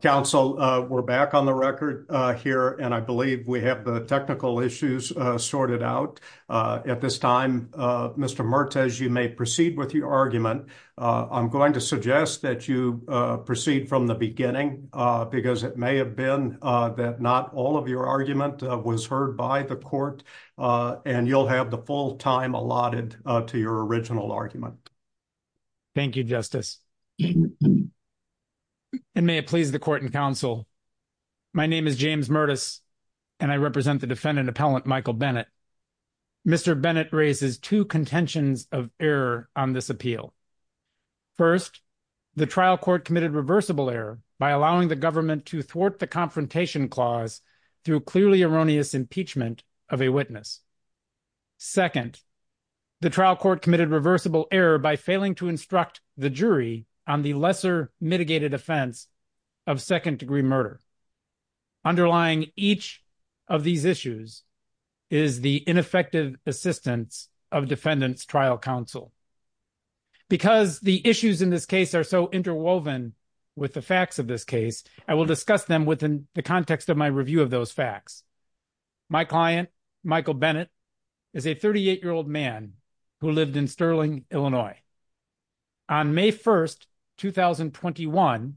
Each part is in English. Counsel, we're back on the record here, and I believe we have the technical issues sorted out. At this time, Mr. Mertes, you may proceed with your argument. I'm going to suggest that you proceed from the beginning, because it may have been that not all of your argument was heard by the court, and you'll have the full time allotted to your original argument. Thank you, Justice. And may it please the court and counsel, my name is James Mertes, and I represent the defendant appellant Michael Bennett. Mr. Bennett raises two contentions of error on this appeal. First, the trial court committed reversible error by allowing the government to thwart the confrontation clause through clearly erroneous impeachment of a witness. Second, the trial court committed reversible error by failing to instruct the jury on the lesser mitigated offense of second degree murder. Underlying each of these issues is the ineffective assistance of defendant's trial counsel. Because the issues in this case are so interwoven with the facts of this case, I will discuss them within the context of my is a 38-year-old man who lived in Sterling, Illinois. On May 1, 2021,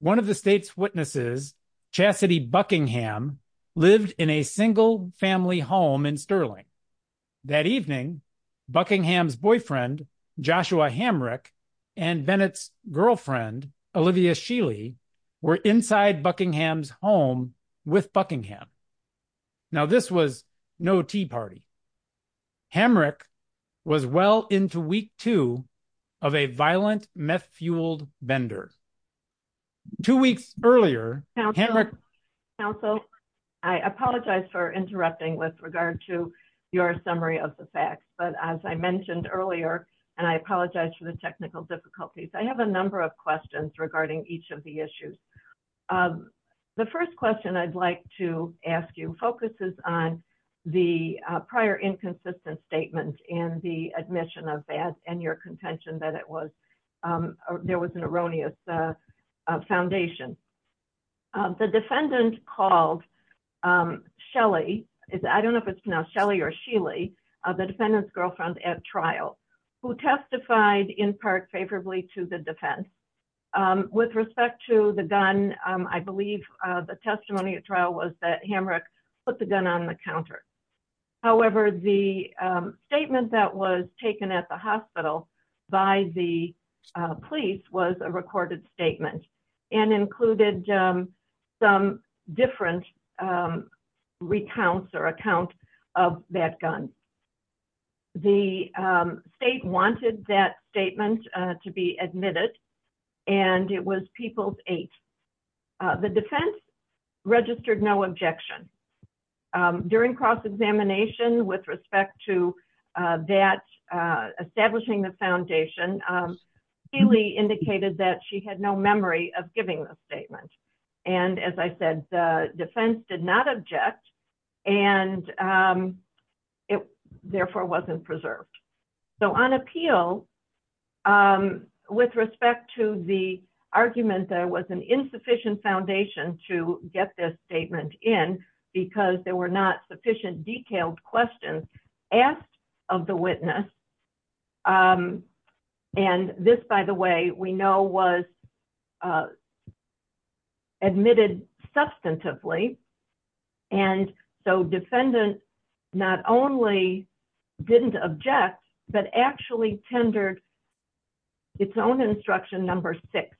one of the state's witnesses, Chassidy Buckingham, lived in a single-family home in Sterling. That evening, Buckingham's boyfriend, Joshua Hamrick, and Bennett's girlfriend, Olivia Shealy, were inside Buckingham's home with Buckingham. Now, this was no tea party. Hamrick was well into week two of a violent meth-fueled bender. Two weeks earlier, Hamrick... Counsel, I apologize for interrupting with regard to your summary of the facts, but as I mentioned earlier, and I apologize for the technical difficulties, I have a number of regarding each of the issues. The first question I'd like to ask you focuses on the prior inconsistent statement and the admission of that and your contention that there was an erroneous foundation. The defendant called Shelly, I don't know if it's now Shelly or Shealy, the defendant's girlfriend at trial, who testified in part favorably to the defense. With respect to the gun, I believe the testimony at trial was that Hamrick put the gun on the counter. However, the statement that was taken at the hospital by the police was a recorded statement and included some different recounts or accounts of that gun. The state wanted that statement to be admitted and it was people's eight. The defense registered no objection. During cross-examination with respect to establishing the foundation, Shealy indicated that she had no memory of giving the statement. As I said, the defense did not object and it therefore wasn't preserved. On appeal, with respect to the argument that it was an insufficient foundation to get this statement in because there were not sufficient detailed questions asked of the witness, and this, by the way, we know was admitted substantively. Defendant not only didn't object but actually tendered its own instruction number six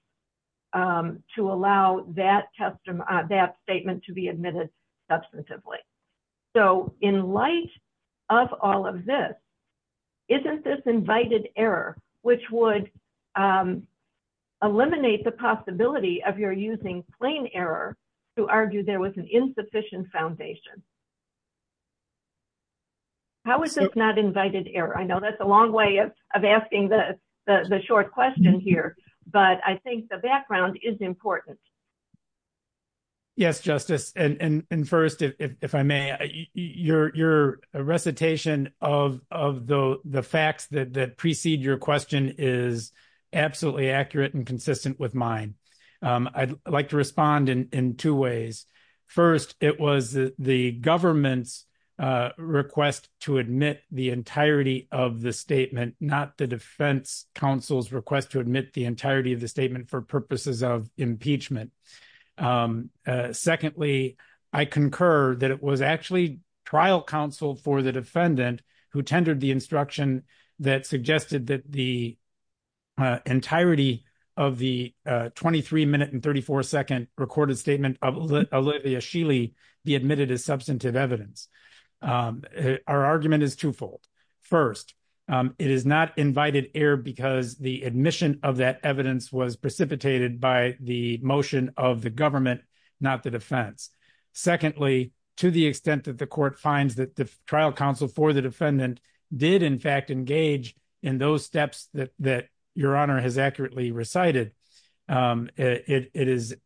to allow that statement to be admitted substantively. In light of all of this, isn't this invited error, which would eliminate the possibility of your using plain error to argue there was an insufficient foundation? How is this not invited error? I know that's a long way of asking the short question here, but I think the background is important. Yes, Justice. First, if I may, your recitation of the facts that precede your question is absolutely accurate and consistent with mine. I'd like to respond in two ways. First, it was the government's request to admit the entirety of the statement, not the defense counsel's request to admit the entirety of the statement for purposes of impeachment. Secondly, I concur that it was actually trial counsel for the defendant who tendered the instruction that suggested that the entirety of the 23 minute and 34 second recorded statement of Olivia Shealy be admitted as substantive evidence. Our argument is twofold. First, it is not invited error because the admission of that evidence was precipitated by the motion of the government, not the defense. Secondly, to the extent that the court finds that the trial counsel for the defendant did, in fact, engage in those steps that your honor has accurately recited, it is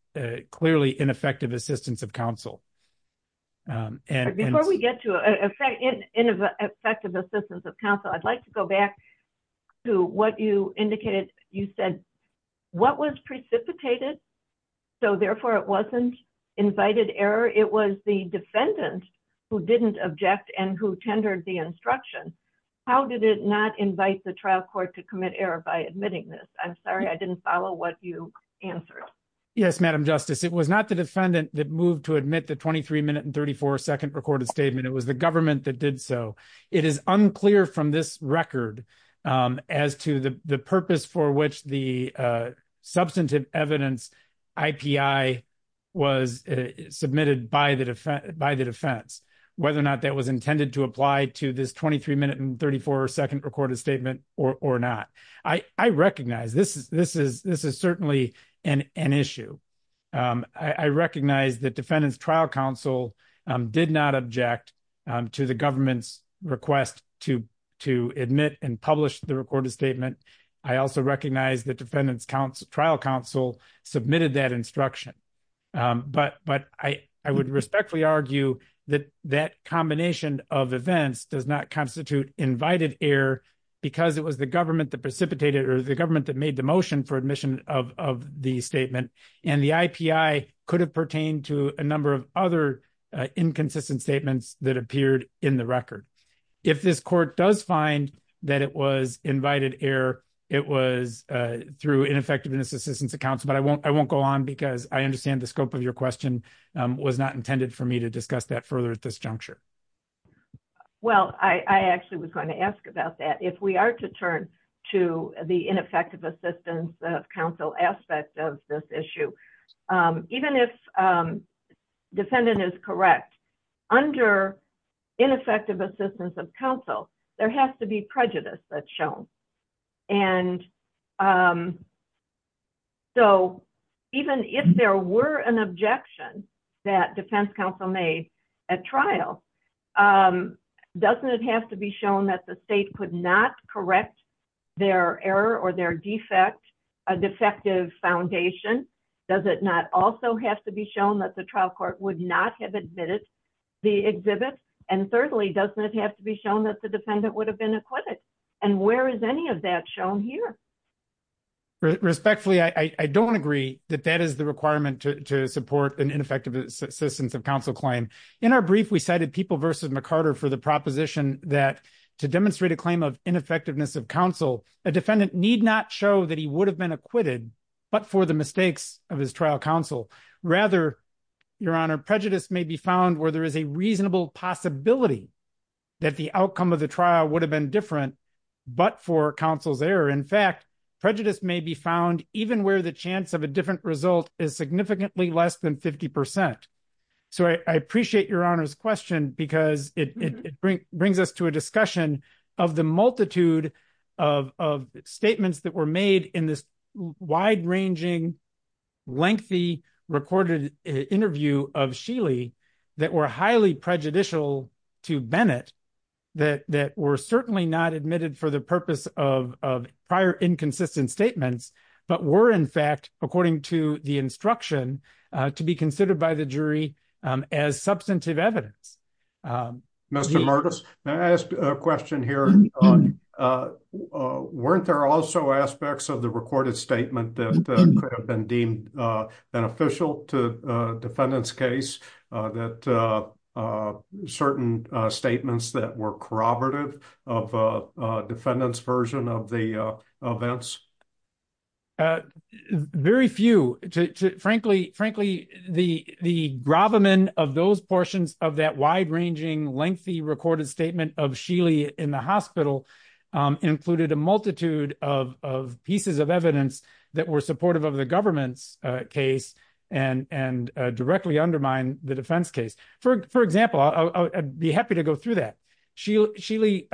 clearly ineffective assistance of counsel. Before we get to ineffective assistance of counsel, I'd like to go back to what you indicated. You said what was precipitated, so therefore it wasn't invited error. It was the defendant who didn't object and who tendered the instruction. How did it not invite the trial court to commit error by admitting this? I'm sorry, I didn't follow what you answered. Yes, Madam Justice. It was not the defendant that moved to admit the 23 minute and 34 second recorded statement. It was the government that did so. It is unclear from this record as to the purpose for which the substantive evidence IPI was submitted by the defense, whether or not that was intended to apply to this 23 minute and 34 second recorded statement or not. I recognize this is certainly an issue. I recognize that defendant's trial counsel did not object to the government's request to admit and publish the recorded statement. I also recognize that defendant's trial counsel submitted that instruction. I would respectfully argue that that combination of events does not constitute invited error because it was the government that precipitated or the government that made the motion for admission of the statement. The IPI could have pertained to a number of other inconsistent statements that appeared in the record. If this court does find that it was invited error, it was through ineffectiveness assistance of counsel. I won't go on because I understand the scope of your question was not intended for me to discuss that further at this juncture. Well, I actually was going to ask about that. If we are to turn to the ineffective assistance of counsel aspect of this issue, even if defendant is correct, under ineffective assistance of counsel, there has to be prejudice that's shown. Even if there were an objection that defense counsel made at trial, doesn't it have to be shown that the state could not correct their error or their defect, a defective foundation? Does it not also have to be shown that the trial court would not have admitted the exhibit? Thirdly, doesn't it have to be shown that the defendant would have been acquitted? Where is any of that shown here? Respectfully, I don't agree that that is the requirement to support an ineffective assistance of counsel claim. In our brief, we cited people versus McCarter for the proposition that to demonstrate a claim of ineffectiveness of counsel, a defendant need not show that he would have been acquitted, but for the mistakes of his trial counsel. Rather, your honor, prejudice may be found where there is a reasonable possibility that the outcome of the trial would have been different, but for counsel's error. In fact, prejudice may be found even where the chance of a different result is significantly less than 50%. So I appreciate your honor's question because it brings us to a discussion of the multitude of statements that were made in this wide-ranging, lengthy, recorded interview of Sheely that were highly prejudicial to Bennett, that were certainly not admitted for the purpose of prior inconsistent statements, but were in fact, according to the to be considered by the jury as substantive evidence. Mr. Murdos, may I ask a question here? Weren't there also aspects of the recorded statement that could have been deemed beneficial to a defendant's case that certain statements that were corroborative of a defendant's version of the events? Very few. Frankly, the gravamen of those portions of that wide-ranging, lengthy, recorded statement of Sheely in the hospital included a multitude of pieces of evidence that were supportive of the government's case and directly undermine the defense case. For example, I'd be happy to go through that. Sheely,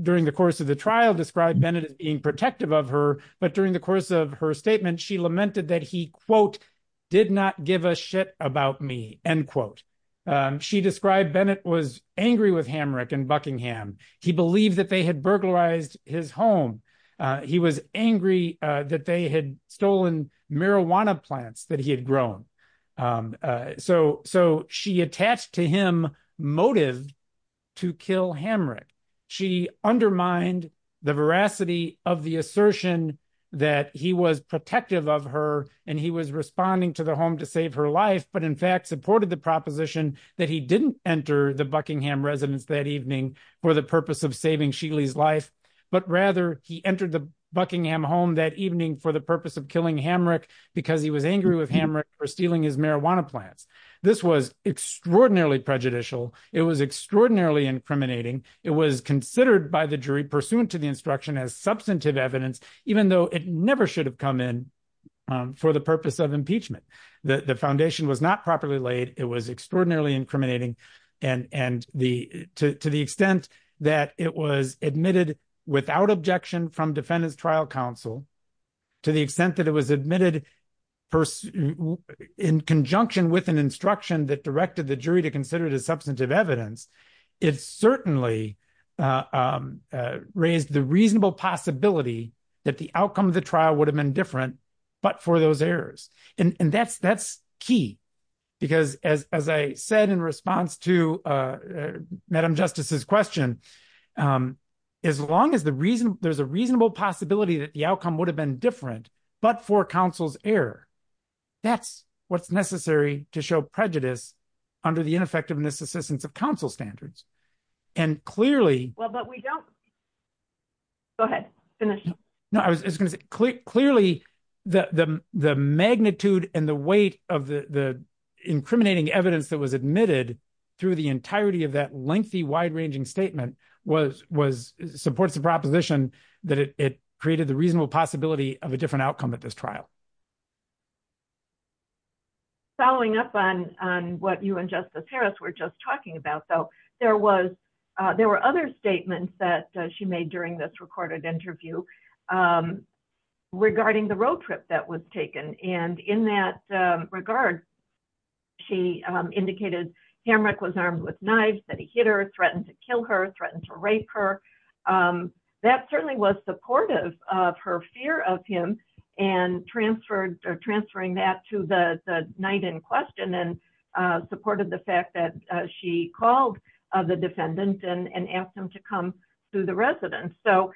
during the course of the trial, described Bennett as being protective of her, but during the course of her statement, she lamented that he, quote, did not give a shit about me, end quote. She described Bennett was angry with Hamrick in Buckingham. He believed that they had burglarized his home. He was angry that they had stolen marijuana plants that he had grown. So she attached to him motive to kill Hamrick. She undermined the veracity of the assertion that he was protective of her and he was responding to the home to save her life, but in fact supported the proposition that he didn't enter the Buckingham residence that evening for the purpose of saving Sheely's life, but rather he entered the Buckingham home that evening for the purpose of killing Hamrick because he was angry with Hamrick for stealing his marijuana plants. This was extraordinarily prejudicial. It was extraordinarily incriminating. It was considered by the jury pursuant to the instruction as substantive evidence, even though it never should have come in for the purpose of impeachment. The foundation was not properly laid. It was extraordinarily admitted without objection from defendant's trial counsel to the extent that it was admitted in conjunction with an instruction that directed the jury to consider it as substantive evidence. It certainly raised the reasonable possibility that the outcome of the trial would have been different, but for those errors. And that's key because as I said in response to Madam Justice's question, as long as there's a reasonable possibility that the outcome would have been different, but for counsel's error, that's what's necessary to show prejudice under the ineffectiveness assistance of counsel standards. And clearly- Well, but we don't- Go ahead. Finish. No, I was going to say clearly the magnitude and the weight of the incriminating evidence that was admitted through the entirety of that lengthy wide ranging statement supports the proposition that it created the reasonable possibility of a different outcome at this trial. Following up on what you and Justice Harris were just talking about though, there were other statements that she made during this recorded interview regarding the road trip that was taken. And in that regard, she indicated Hamrick was armed with knives, that he hit her, threatened to kill her, threatened to rape her. That certainly was supportive of her fear of him and transferring that to the night in question and supported the she called the defendant and asked him to come to the residence. So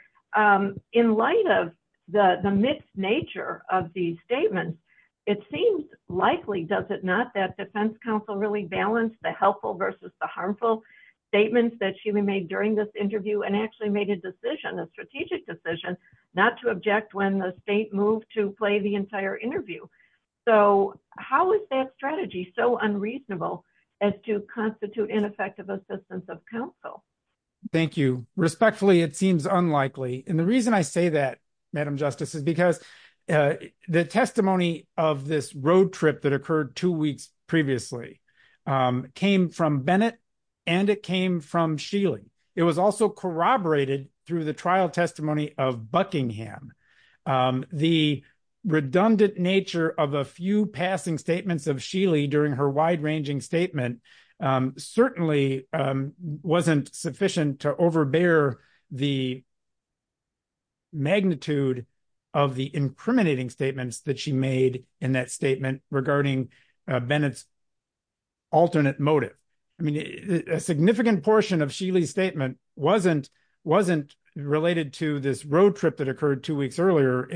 in light of the mixed nature of these statements, it seems likely, does it not, that defense counsel really balanced the helpful versus the harmful statements that she made during this interview and actually made a decision, a strategic decision not to object when the state moved to play the entire interview. So how is that strategy so unreasonable as to constitute ineffective assistance of counsel? Thank you. Respectfully, it seems unlikely. And the reason I say that, Madam Justice, is because the testimony of this road trip that occurred two weeks previously came from Bennett and it came from Shealy. It was also corroborated through the trial that the nature of a few passing statements of Shealy during her wide ranging statement certainly wasn't sufficient to overbear the magnitude of the incriminating statements that she made in that statement regarding Bennett's alternate motive. I mean, a significant portion of Shealy's statement wasn't related to this road trip that occurred two weeks earlier.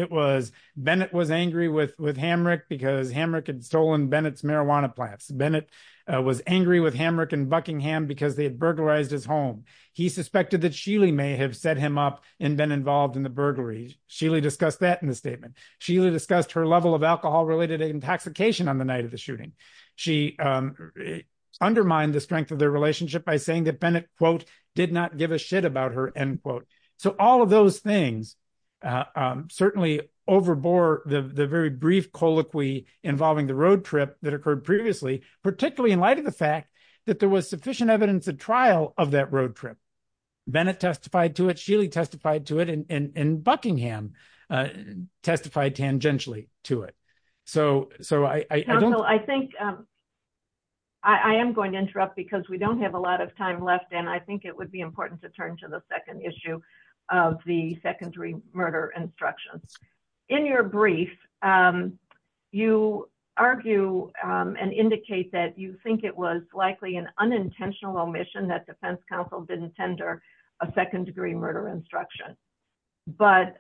Bennett was angry with Hamrick because Hamrick had stolen Bennett's marijuana plants. Bennett was angry with Hamrick and Buckingham because they had burglarized his home. He suspected that Shealy may have set him up and been involved in the burglary. Shealy discussed that in the statement. Shealy discussed her level of alcohol-related intoxication on the night of the shooting. She undermined the strength of their relationship by saying that Bennett, quote, So all of those things certainly overbore the very brief colloquy involving the road trip that occurred previously, particularly in light of the fact that there was sufficient evidence at trial of that road trip. Bennett testified to it, Shealy testified to it, and Buckingham testified tangentially to it. So I don't know. I think I am going to interrupt because we don't have a lot of time left, and I think it would be important to turn to the second issue of the secondary murder instructions. In your brief, you argue and indicate that you think it was likely an unintentional omission that defense counsel didn't tender a second-degree murder instruction. But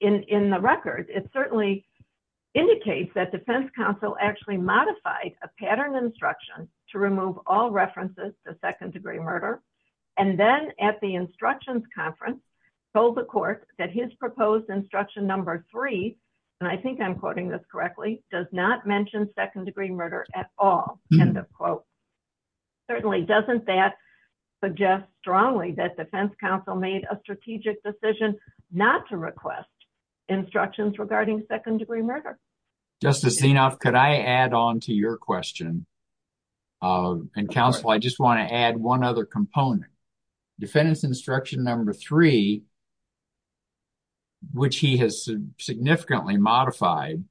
in the record, it certainly indicates that defense counsel actually modified a pattern instruction to remove all references to second-degree murder, and then at the instructions conference told the court that his proposed instruction number three, and I think I'm quoting this correctly, does not mention second-degree murder at all, end of quote. Certainly, doesn't that suggest strongly that defense counsel made a strategic decision not to request instructions regarding second-degree murder? Justice Zinov, could I add on to your question? And counsel, I just want to add one other component. Defendant's instruction number three, which he has significantly modified,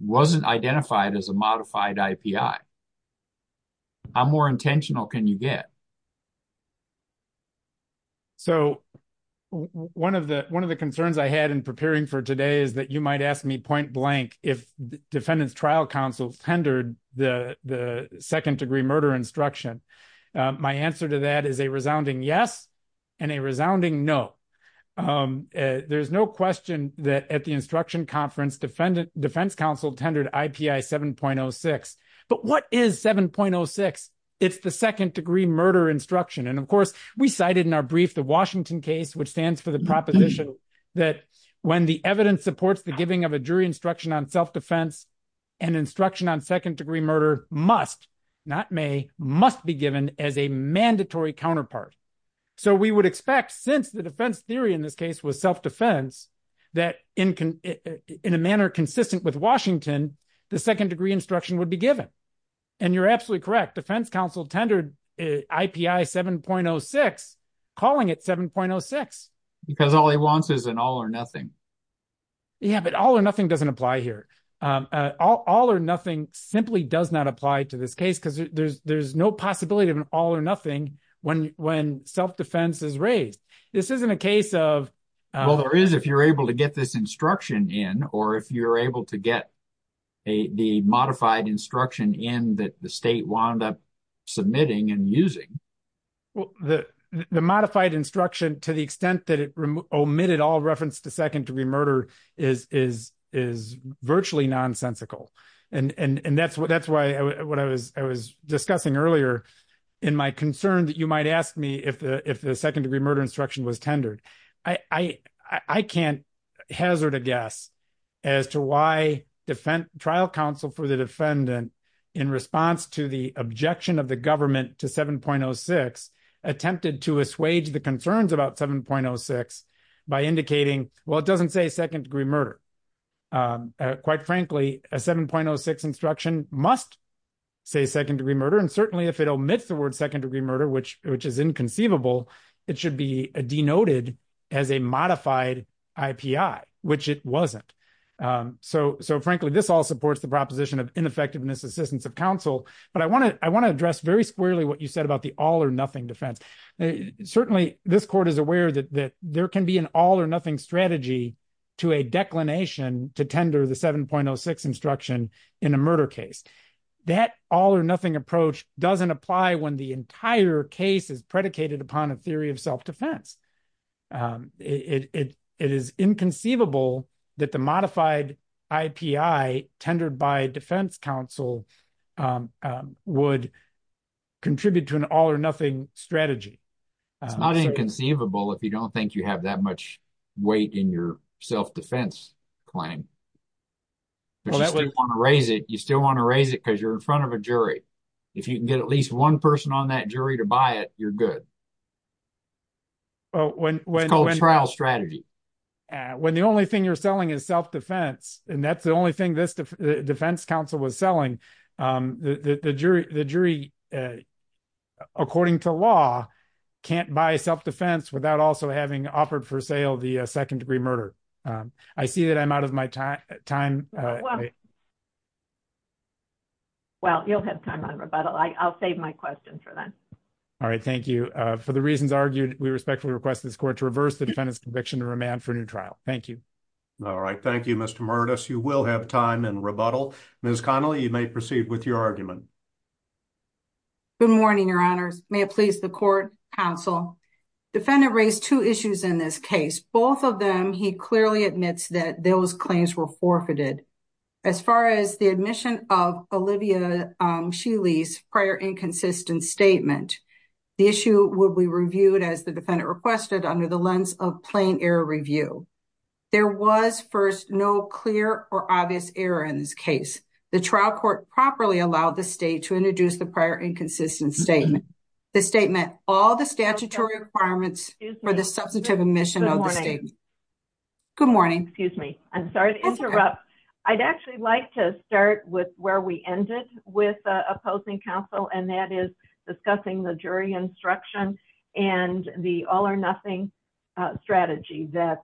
wasn't identified as a modified IPI. How more intentional can you get? So, one of the concerns I had in preparing for today is that you might ask me point-blank if defendant's trial counsel tendered the second-degree murder instruction. My answer to that is a resounding yes and a resounding no. There's no question that at the instruction conference, defense counsel tendered IPI 7.06. But what is 7.06? It's the second-degree murder instruction. And of course, we cited in our brief the Washington case, which stands for the proposition that when the evidence supports the giving of a jury instruction on self-defense, an instruction on second-degree murder must, not may, must be given as a mandatory counterpart. So, we would expect, since the defense theory in this case was self-defense, that in a manner consistent with Washington, the second-degree instruction would be given. And you're absolutely correct. Defense counsel tendered IPI 7.06, calling it 7.06. Because all he wants is an all or nothing. Yeah, but all or nothing doesn't apply here. All or nothing simply does not apply to this case because there's no possibility of an all or nothing when self-defense is raised. This isn't a case of... Well, there is if you're able to get this instruction in or if you're able to get the modified instruction in that the state wound up submitting and using. Well, the modified instruction, to the extent that it omitted all reference to second-degree murder, is virtually nonsensical. And that's what I was discussing earlier in my concern that you might ask me if the second-degree murder instruction was tendered. I can't hazard a guess as to why trial counsel for the defendant, in response to the objection of the government to 7.06, attempted to assuage the concerns about 7.06 by indicating, well, it doesn't say second-degree murder. Quite frankly, a 7.06 instruction must say second-degree murder. And certainly, if it omits the word second-degree murder, which is inconceivable, it should be denoted as a modified IPI, which it wasn't. So frankly, this all supports the proposition of ineffectiveness assistance of counsel. But I want to address very squarely what you said about the all or nothing defense. Certainly, this court is aware that there can be an all or nothing strategy to a declination to tender the 7.06 instruction in a murder case. That all or nothing approach doesn't apply when the entire case is predicated upon a theory of self-defense. It is inconceivable that the modified IPI tendered by defense counsel would contribute to an all or nothing strategy. It's not inconceivable if you don't think you have that much weight in your self-defense claim. But you still want to raise it because you're in front of a jury. If you can get at least one person on that jury to buy it, you're good. It's called a trial strategy. When the only thing you're selling is self-defense, and that's the only thing this defense counsel was selling, the jury, according to law, can't buy self-defense without also having offered for sale the second-degree murder. I see that I'm out of my time. Well, you'll have time on rebuttal. I'll save my questions for then. All right. Thank you. For the reasons argued, we respectfully request this court to reverse the defendant's conviction to remand for a new trial. Thank you. All right. Thank you, Mr. Murtis. You will have time in rebuttal. Ms. Connelly, you may proceed with your argument. Good morning, your honors. May it please the court, counsel. Defendant raised two issues in this case. Both of them, he clearly admits that those claims were forfeited. As far as the admission of Olivia Shealy's prior inconsistent statement, the issue would be reviewed, as the defendant requested, under the lens of plain error review. There was, first, no clear or obvious error in this case. The trial court properly allowed the state to prior inconsistent statement. The state met all the statutory requirements for the substantive admission of the statement. Good morning. Excuse me. I'm sorry to interrupt. I'd actually like to start with where we ended with opposing counsel, and that is discussing the jury instruction and the all-or-nothing strategy that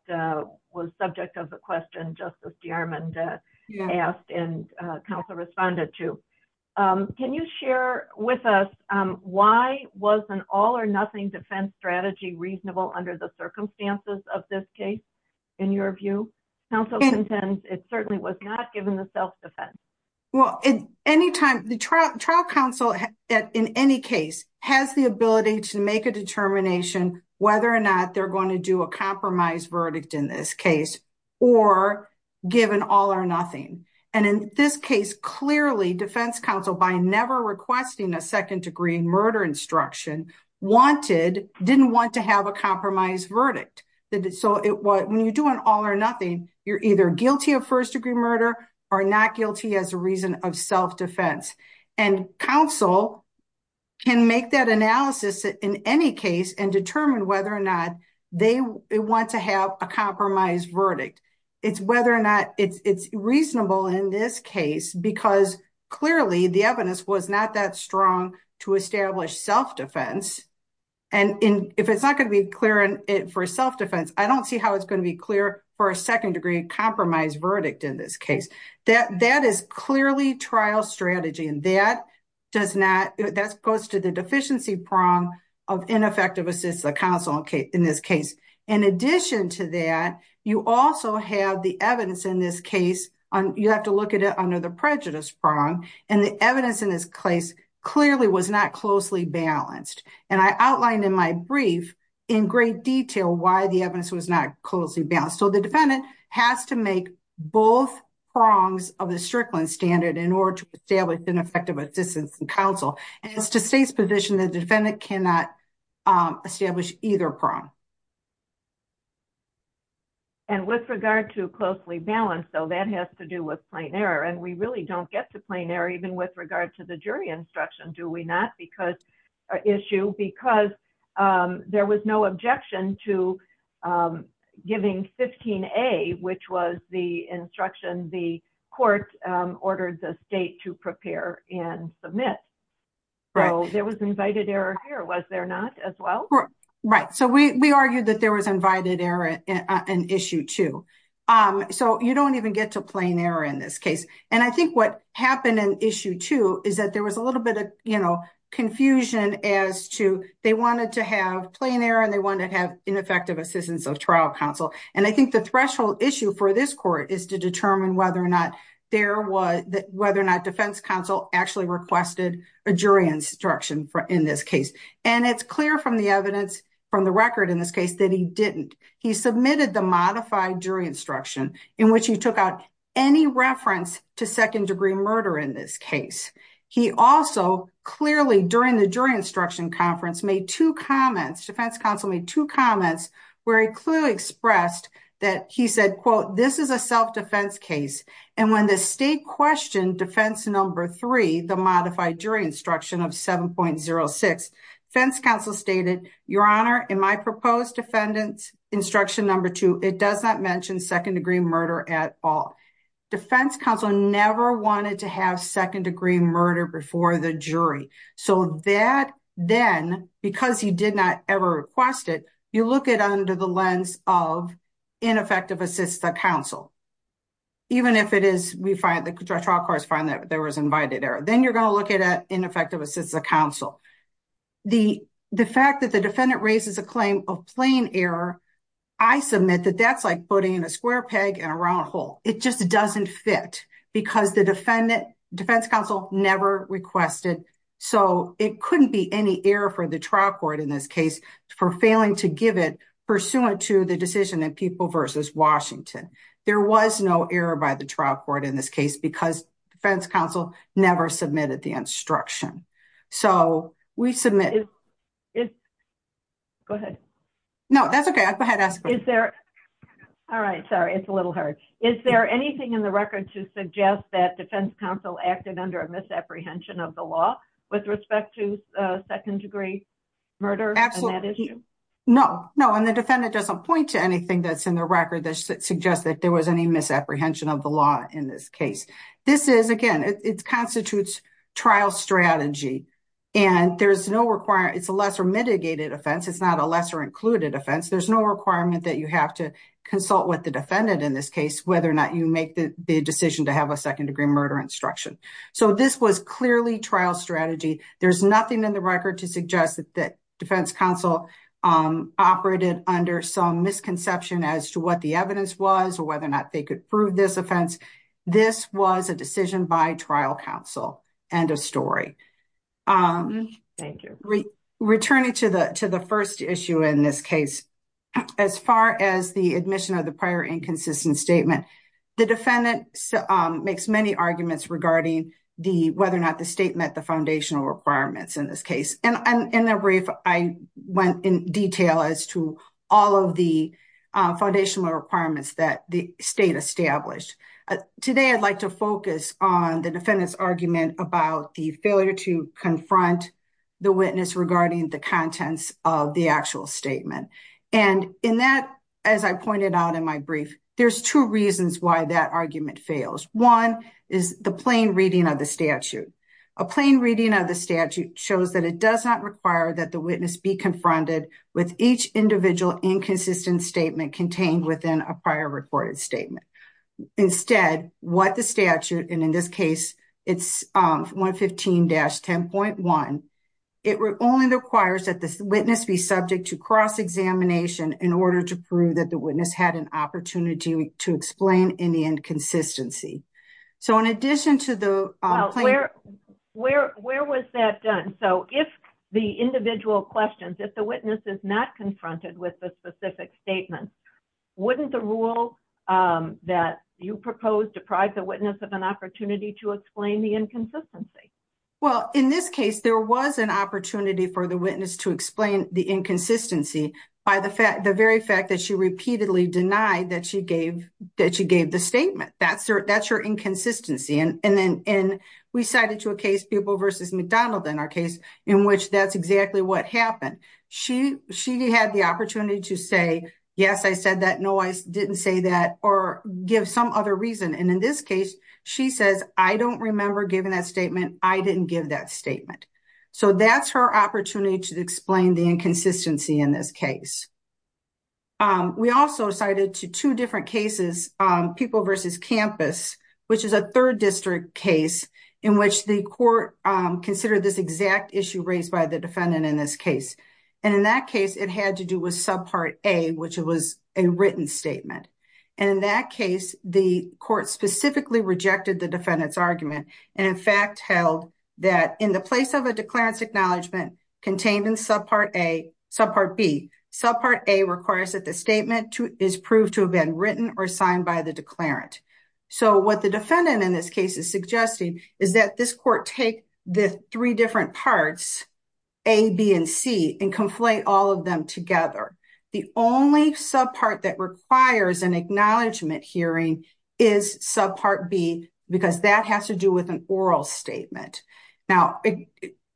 was subject of the question Justice DeArmond asked and counsel responded to. Can you share with us why was an all-or-nothing defense strategy reasonable under the circumstances of this case, in your view? Counsel contends it certainly was not given the self-defense. Well, the trial counsel, in any case, has the ability to make a determination whether or not they're going to do a compromise verdict in this case or give an all-or-nothing. And in this case, clearly, defense counsel, by never requesting a second-degree murder instruction, didn't want to have a compromise verdict. So when you do an all-or-nothing, you're either guilty of first-degree murder or not guilty as a reason of self-defense. And counsel can make that analysis in any case and determine whether or not they want to have a compromise verdict. It's reasonable in this case because clearly the evidence was not that strong to establish self-defense. And if it's not going to be clear for self-defense, I don't see how it's going to be clear for a second-degree compromise verdict in this case. That is clearly trial strategy, and that goes to the deficiency prong of ineffective assists of counsel in this case. In addition to that, you also have the evidence in this case, you have to look at it under the prejudice prong, and the evidence in this case clearly was not closely balanced. And I outlined in my brief in great detail why the evidence was not closely balanced. So the defendant has to make both prongs of the Strickland standard in order to establish ineffective assistance in counsel. As to state's position, the defendant cannot establish either prong. And with regard to closely balanced, though, that has to do with plain error. And we really don't get to plain error even with regard to the jury instruction, do we not? Because there was no objection to giving 15A, which was the instruction the court ordered the state to prepare and submit. So there was invited error here, was there not, as well? Right. So we argued that there was invited error in Issue 2. So you don't even get to plain error in this case. And I think what happened in Issue 2 is that there was a little bit of confusion as to they wanted to have plain error and they wanted to have ineffective assistance of trial counsel. And I think the threshold issue for this court is to determine whether or not defense counsel actually requested a jury instruction in this case. And it's clear from the evidence from the record in this case that he didn't. He submitted the modified jury instruction in which he took out any reference to second-degree murder in this case. He also clearly, during the jury instruction conference, made two comments, defense counsel made two comments where he clearly expressed that he said, quote, this is a self-defense case. And when the state questioned defense number three, the modified jury instruction of 7.06, defense counsel stated, your honor, in my proposed defendant's instruction number two, it does not mention second-degree murder at all. Defense counsel never wanted to have second-degree murder before the jury. So that then, because he did not ever request it, you look at it under the lens of ineffective assistance of counsel. Even if it is, we find, the trial courts find that there was invited error. Then you're going to look at ineffective assistance of counsel. The fact that the defendant raises a claim of plain error, I submit that that's like putting a square peg in a round hole. It just doesn't fit because the defense counsel never requested. So it couldn't be any error for the trial court in this case for failing to give it pursuant to the decision in People v. Washington. There was no error by the trial court in this case because defense counsel never submitted the instruction. So we submit it. Go ahead. No, that's okay. Is there, all right, sorry, it's a little hard. Is there anything in the record to suggest that defense counsel acted under a misapprehension of the law with respect to second-degree murder? No, no. And the defendant doesn't point to anything that's in the record that suggests that there was any misapprehension of the law in this case. This is, again, it constitutes trial strategy and there's no requirement, it's a lesser mitigated offense. It's not a lesser included offense. There's no requirement that you have to consult with the defendant in this case whether or not you make the decision to have a second-degree murder instruction. So this was clearly trial strategy. There's nothing in the record to suggest that defense counsel operated under some misconception as to what the evidence was or whether or not they could prove this offense. This was a decision by trial counsel. End of story. Thank you. Returning to the first issue in this case, as far as the admission of the prior inconsistent statement, the defendant makes many arguments regarding whether or not the state met the foundational requirements in this case. And in the brief, I went in detail as to all of the foundational requirements that the state established. Today, I'd like to focus on the defendant's argument about the failure to confront the witness regarding the contents of the actual statement. And in that, as I pointed out in my brief, there's two reasons why that argument fails. One is the plain reading of the statute. A plain reading of the statute shows that it does not require that the witness be confronted with each individual inconsistent statement contained within a prior recorded statement. Instead, what the statute, and in this case, it's 115-10.1, it only requires that the witness be subject to cross-examination in order to prove that the witness had an opportunity to explain any inconsistency. So, in addition to the plain... Where was that done? So, if the individual questions, if the witness is not confronted with the specific statement, wouldn't the rule that you proposed deprive the witness of an opportunity to explain the inconsistency? Well, in this case, there was an opportunity for the witness to explain the inconsistency by the very fact that she repeatedly denied that she gave the statement. That's her inconsistency. And then we cited to a case, Pupil versus McDonald in our case, in which that's exactly what happened. She had the opportunity to say, yes, I said that, no, I didn't say that, or give some other reason. And in this case, she says, I don't remember giving that statement, I didn't give that statement. So, that's her opportunity to explain the inconsistency in this case. We also cited to two different cases, Pupil versus Campus, which is a third district case in which the court considered this exact issue raised by the defendant in this case. And in that case, it had to do with subpart A, which was a written statement. And in that case, the court specifically rejected the defendant's argument, and in fact, held that in the place of a declarance acknowledgement contained in subpart A, subpart B, subpart A requires that the statement is proved to have been written or signed by the declarant. So, what the defendant in this case is suggesting is that this court take the three different parts, A, B, and C, and conflate all of them together. The only subpart that requires an acknowledgement hearing is subpart B, because that has to do with an oral statement. And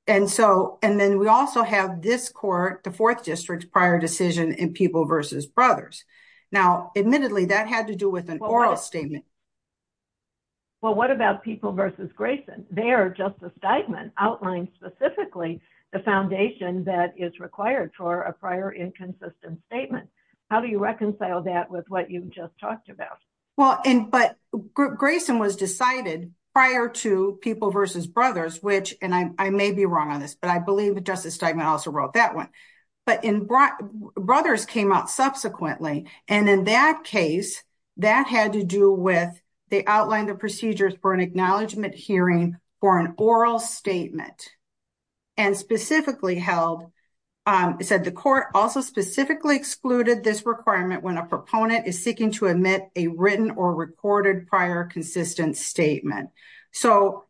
then we also have this court, the fourth district's prior decision in Pupil versus Brothers. Now, admittedly, that had to do with an oral statement. Well, what about Pupil versus Grayson? There, Justice Steinman outlined specifically the foundation that is required for a prior inconsistent statement. How do you reconcile that with what you've just talked about? Well, but Grayson was decided prior to Pupil versus Brothers, which, and I may be wrong on this, but I believe that Justice Steinman also wrote that one. But in, Brothers came out subsequently. And in that case, that had to do with, they outlined the procedures for an acknowledgement hearing for an oral statement. And specifically held, it said the court also specifically excluded this requirement when a proponent is seeking to admit a written or recorded prior consistent statement. So,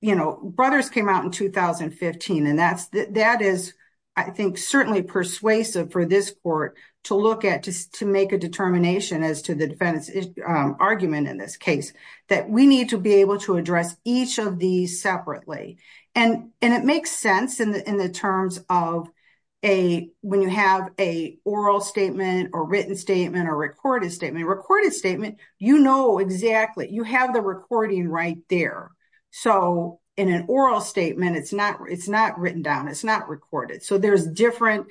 you know, Brothers came out in 2015, and that is, I think, certainly persuasive for this court to look at, to make a determination as to the defendant's argument in this case, that we need to be able to address each of these separately. And it makes sense in the terms of a, when you have a oral statement or written statement or recorded statement. A recorded statement, you know exactly, you have the recording right there. So, in an oral statement, it's not written down, it's not recorded. So, there's different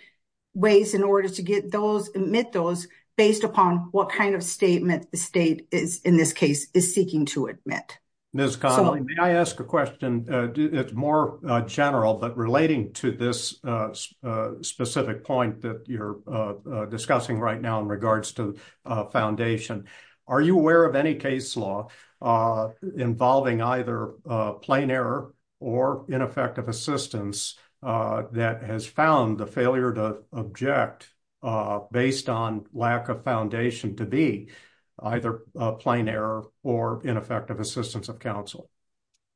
ways in order to get those, admit those, based upon what kind of statement the state is, in this case, is seeking to admit. Ms. Connelly, may I ask a question? It's more general, but relating to this specific point that you're discussing right now in regards to foundation. Are you aware of any case law involving either plain error or ineffective assistance that has found the failure to object based on lack of foundation to be either plain error or ineffective assistance of counsel?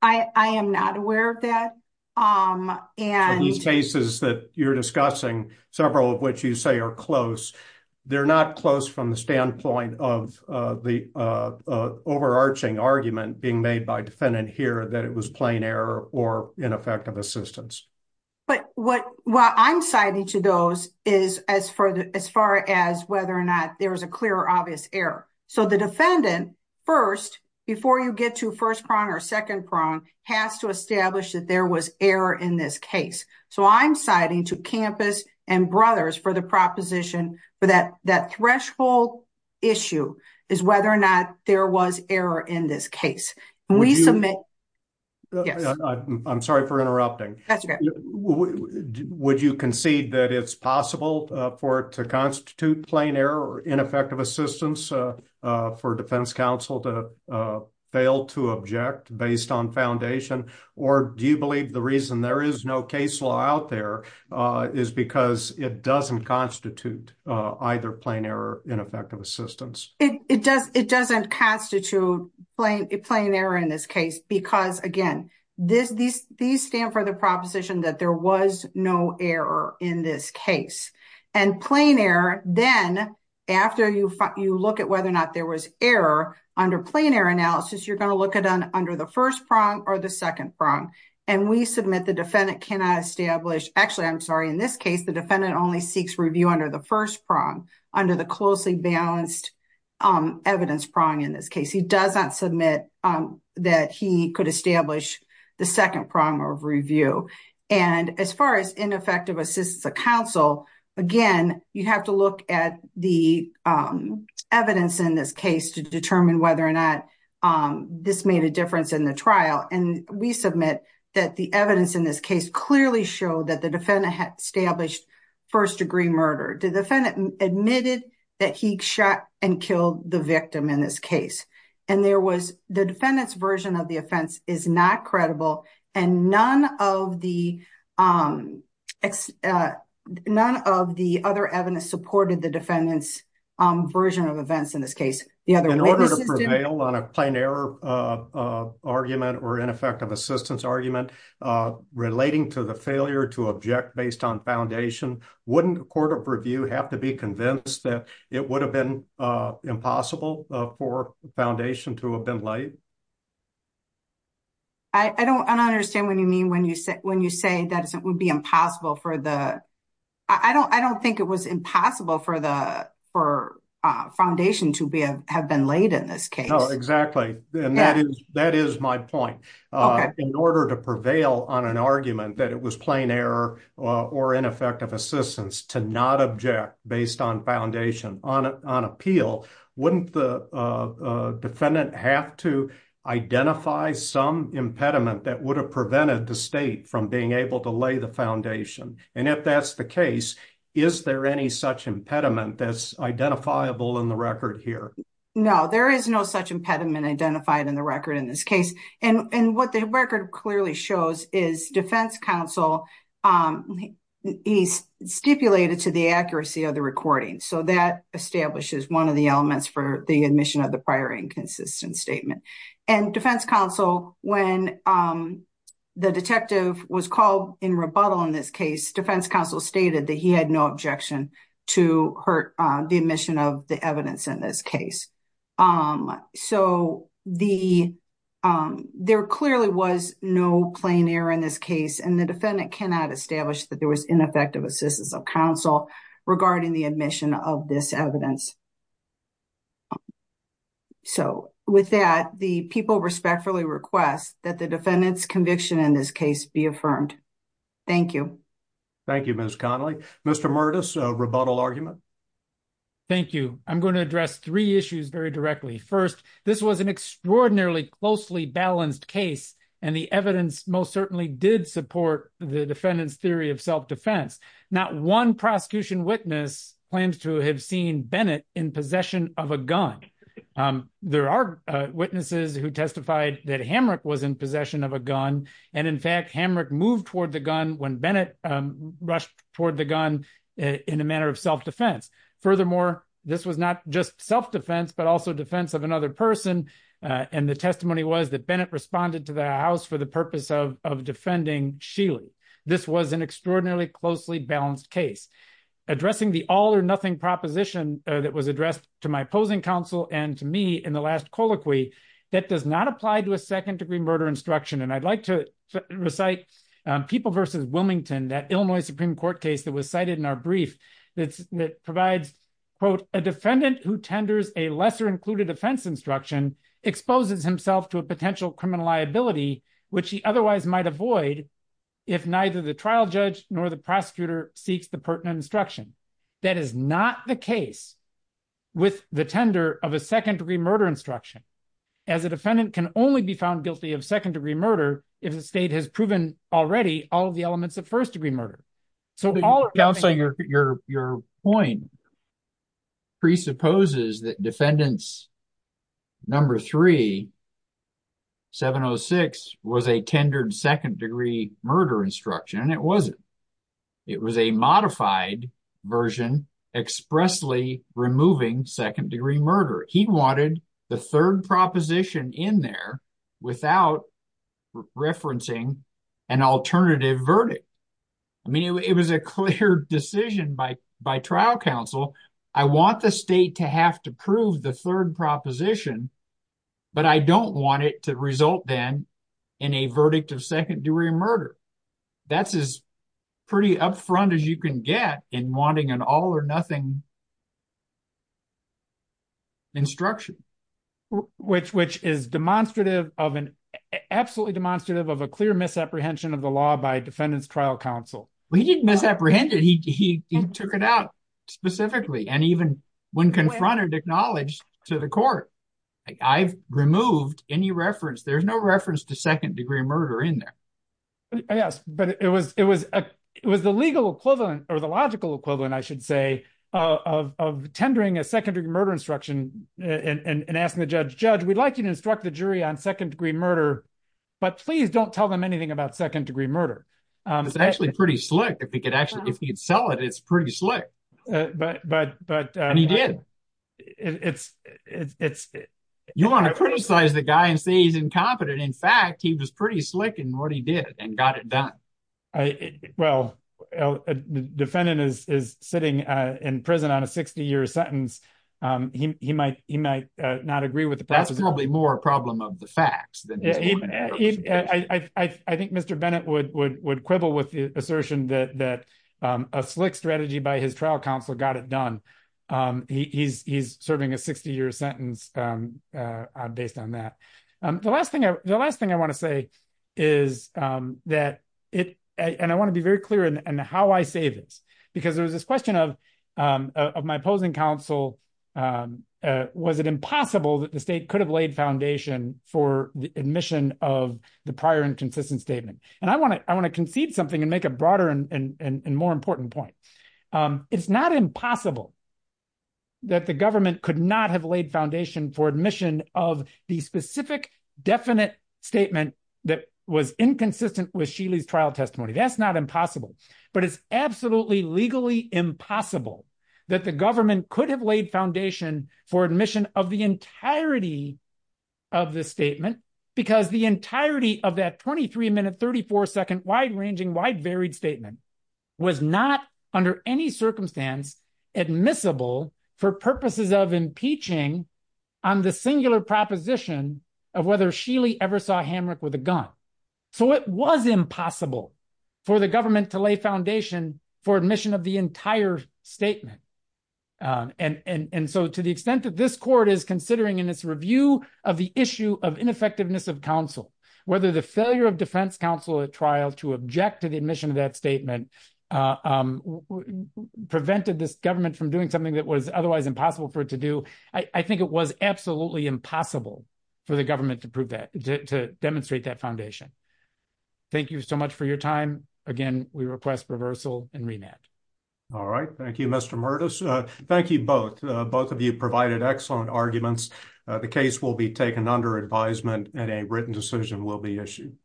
I am not aware of that. And these cases that you're discussing, several of which you say are close, they're not close from the standpoint of the overarching argument being made by defendant here that it was plain error or ineffective assistance. But what I'm citing to those is as far as whether or not there was a clear or obvious error. So, the defendant first, before you get to first prong or second prong, has to establish that there was error in this case. So, I'm citing to campus and brothers for the proposition for that threshold issue is whether or not there was error in this case. We submit. I'm sorry for interrupting. Would you concede that it's possible for it to constitute plain error or ineffective assistance for defense counsel to fail to object based on foundation? Or do you believe the reason there is no case law out there is because it doesn't constitute either plain error or ineffective assistance? It doesn't constitute plain error in this case because, again, these stand for the proposition that there was no error in this case. And plain error, then after you look at whether or not there was error under plain error analysis, you're going to look at under the first prong or the second prong. And we submit the defendant cannot establish, actually, I'm sorry, in this case, the defendant only seeks review under the first prong, under the closely balanced evidence prong in this case. He does not submit that he could establish the second prong of review. And as far as ineffective assistance of counsel, again, you have to look at the evidence in this case to determine whether or not this made a difference in the trial. And we submit that the evidence in this case clearly showed that the defendant had established first-degree murder. The defendant admitted that he shot and killed the victim in this case. And there was the defendant's version of the offense is not credible. And none of the other evidence supported the defendant's version of events in this case. In order to prevail on a plain error argument or ineffective assistance argument relating to the failure to object based on foundation, wouldn't a court of defense be convinced that it would have been impossible for foundation to have been laid? I don't understand what you mean when you say that it would be impossible for the, I don't think it was impossible for foundation to have been laid in this case. No, exactly. And that is my point. In order to prevail on an argument that it was plain error or ineffective assistance to not object based on foundation on appeal, wouldn't the defendant have to identify some impediment that would have prevented the state from being able to lay the foundation? And if that's the case, is there any such impediment that's identifiable in the record here? No, there is no such impediment identified in the record in this case. And what the record clearly shows is defense counsel, he's stipulated to the accuracy of the recording. So that establishes one of the elements for the admission of the prior inconsistent statement. And defense counsel, when the detective was called in rebuttal in this case, defense counsel stated that he had no objection to hurt the admission of the evidence in this case. So there clearly was no plain error in this case and the defendant cannot establish that there was ineffective assistance of counsel regarding the admission of this evidence. So with that, the people respectfully request that the defendant's conviction in this case be affirmed. Thank you. Thank you, Ms. Connelly. Mr. Bennett, do you have a rebuttal argument? Thank you. I'm going to address three issues very directly. First, this was an extraordinarily closely balanced case and the evidence most certainly did support the defendant's theory of self-defense. Not one prosecution witness plans to have seen Bennett in possession of a gun. There are witnesses who testified that Hamrick was in possession of a gun. And in fact, Hamrick moved when Bennett rushed toward the gun in a manner of self-defense. Furthermore, this was not just self-defense, but also defense of another person. And the testimony was that Bennett responded to the house for the purpose of defending Sheely. This was an extraordinarily closely balanced case. Addressing the all or nothing proposition that was addressed to my opposing counsel and to me in the last colloquy, that does not apply to a second degree murder instruction. And I'd like to go back to People v. Wilmington, that Illinois Supreme Court case that was cited in our brief that provides, quote, a defendant who tenders a lesser included offense instruction exposes himself to a potential criminal liability, which he otherwise might avoid if neither the trial judge nor the prosecutor seeks the pertinent instruction. That is not the case with the tender of a second degree murder instruction, as a defendant can only be found of second degree murder if the state has proven already all of the elements of first degree murder. So all of the- Counsel, your point presupposes that defendants number three, 706, was a tendered second degree murder instruction, and it wasn't. It was a modified version expressly removing second degree murder. He wanted the third proposition in there without referencing an alternative verdict. I mean, it was a clear decision by trial counsel. I want the state to have to prove the third proposition, but I don't want it to result then in a verdict of second degree murder. That's as pretty upfront as you can get in wanting an all or nothing instruction. Which is absolutely demonstrative of a clear misapprehension of the law by defendant's trial counsel. He didn't misapprehend it. He took it out specifically, and even when confronted, acknowledged to the court. I've removed any reference. There's no reference to second degree murder in there. Yes, but it was the legal equivalent or the equivalent, I should say, of tendering a second degree murder instruction and asking the judge, judge, we'd like you to instruct the jury on second degree murder, but please don't tell them anything about second degree murder. It's actually pretty slick. If he could sell it, it's pretty slick. He did. You want to criticize the guy and say he's incompetent. In fact, he was pretty slick in what he did and got it done. Defendant is sitting in prison on a 60 year sentence. He might not agree with the process. That's probably more a problem of the facts. I think Mr. Bennett would quibble with the assertion that a slick strategy by his trial counsel got it done. He's serving a 60 year sentence based on that. The last thing I want to say is that, and I want to be very clear in how I say this, because there was this question of my opposing counsel, was it impossible that the state could have laid foundation for the admission of the prior inconsistent statement? I want to concede something and make a broader and more important point. It's not impossible that the government could not have laid foundation for admission of the specific definite statement that was inconsistent with Sheely's trial testimony. That's not impossible, but it's absolutely legally impossible that the government could have laid foundation for admission of the entirety of the statement, because the entirety of that 23 minute, 34 second, wide ranging, wide varied statement was not under any circumstance admissible for purposes of impeaching on the singular proposition of whether Sheely ever saw Hamrick with a gun. It was impossible for the government to lay foundation for admission of the entire statement. To the extent that this court is considering in its review of the issue of ineffectiveness of counsel, whether the failure of defense counsel at trial to object to the admission of that statement prevented this government from doing something that was otherwise impossible for it to do, I think it was absolutely impossible for the government to prove that, to demonstrate that foundation. Thank you so much for your time. Again, we request reversal and remand. All right. Thank you, Mr. Murtis. Thank you both. Both of you provided excellent arguments. The case will be taken under advisement and a written decision will be issued.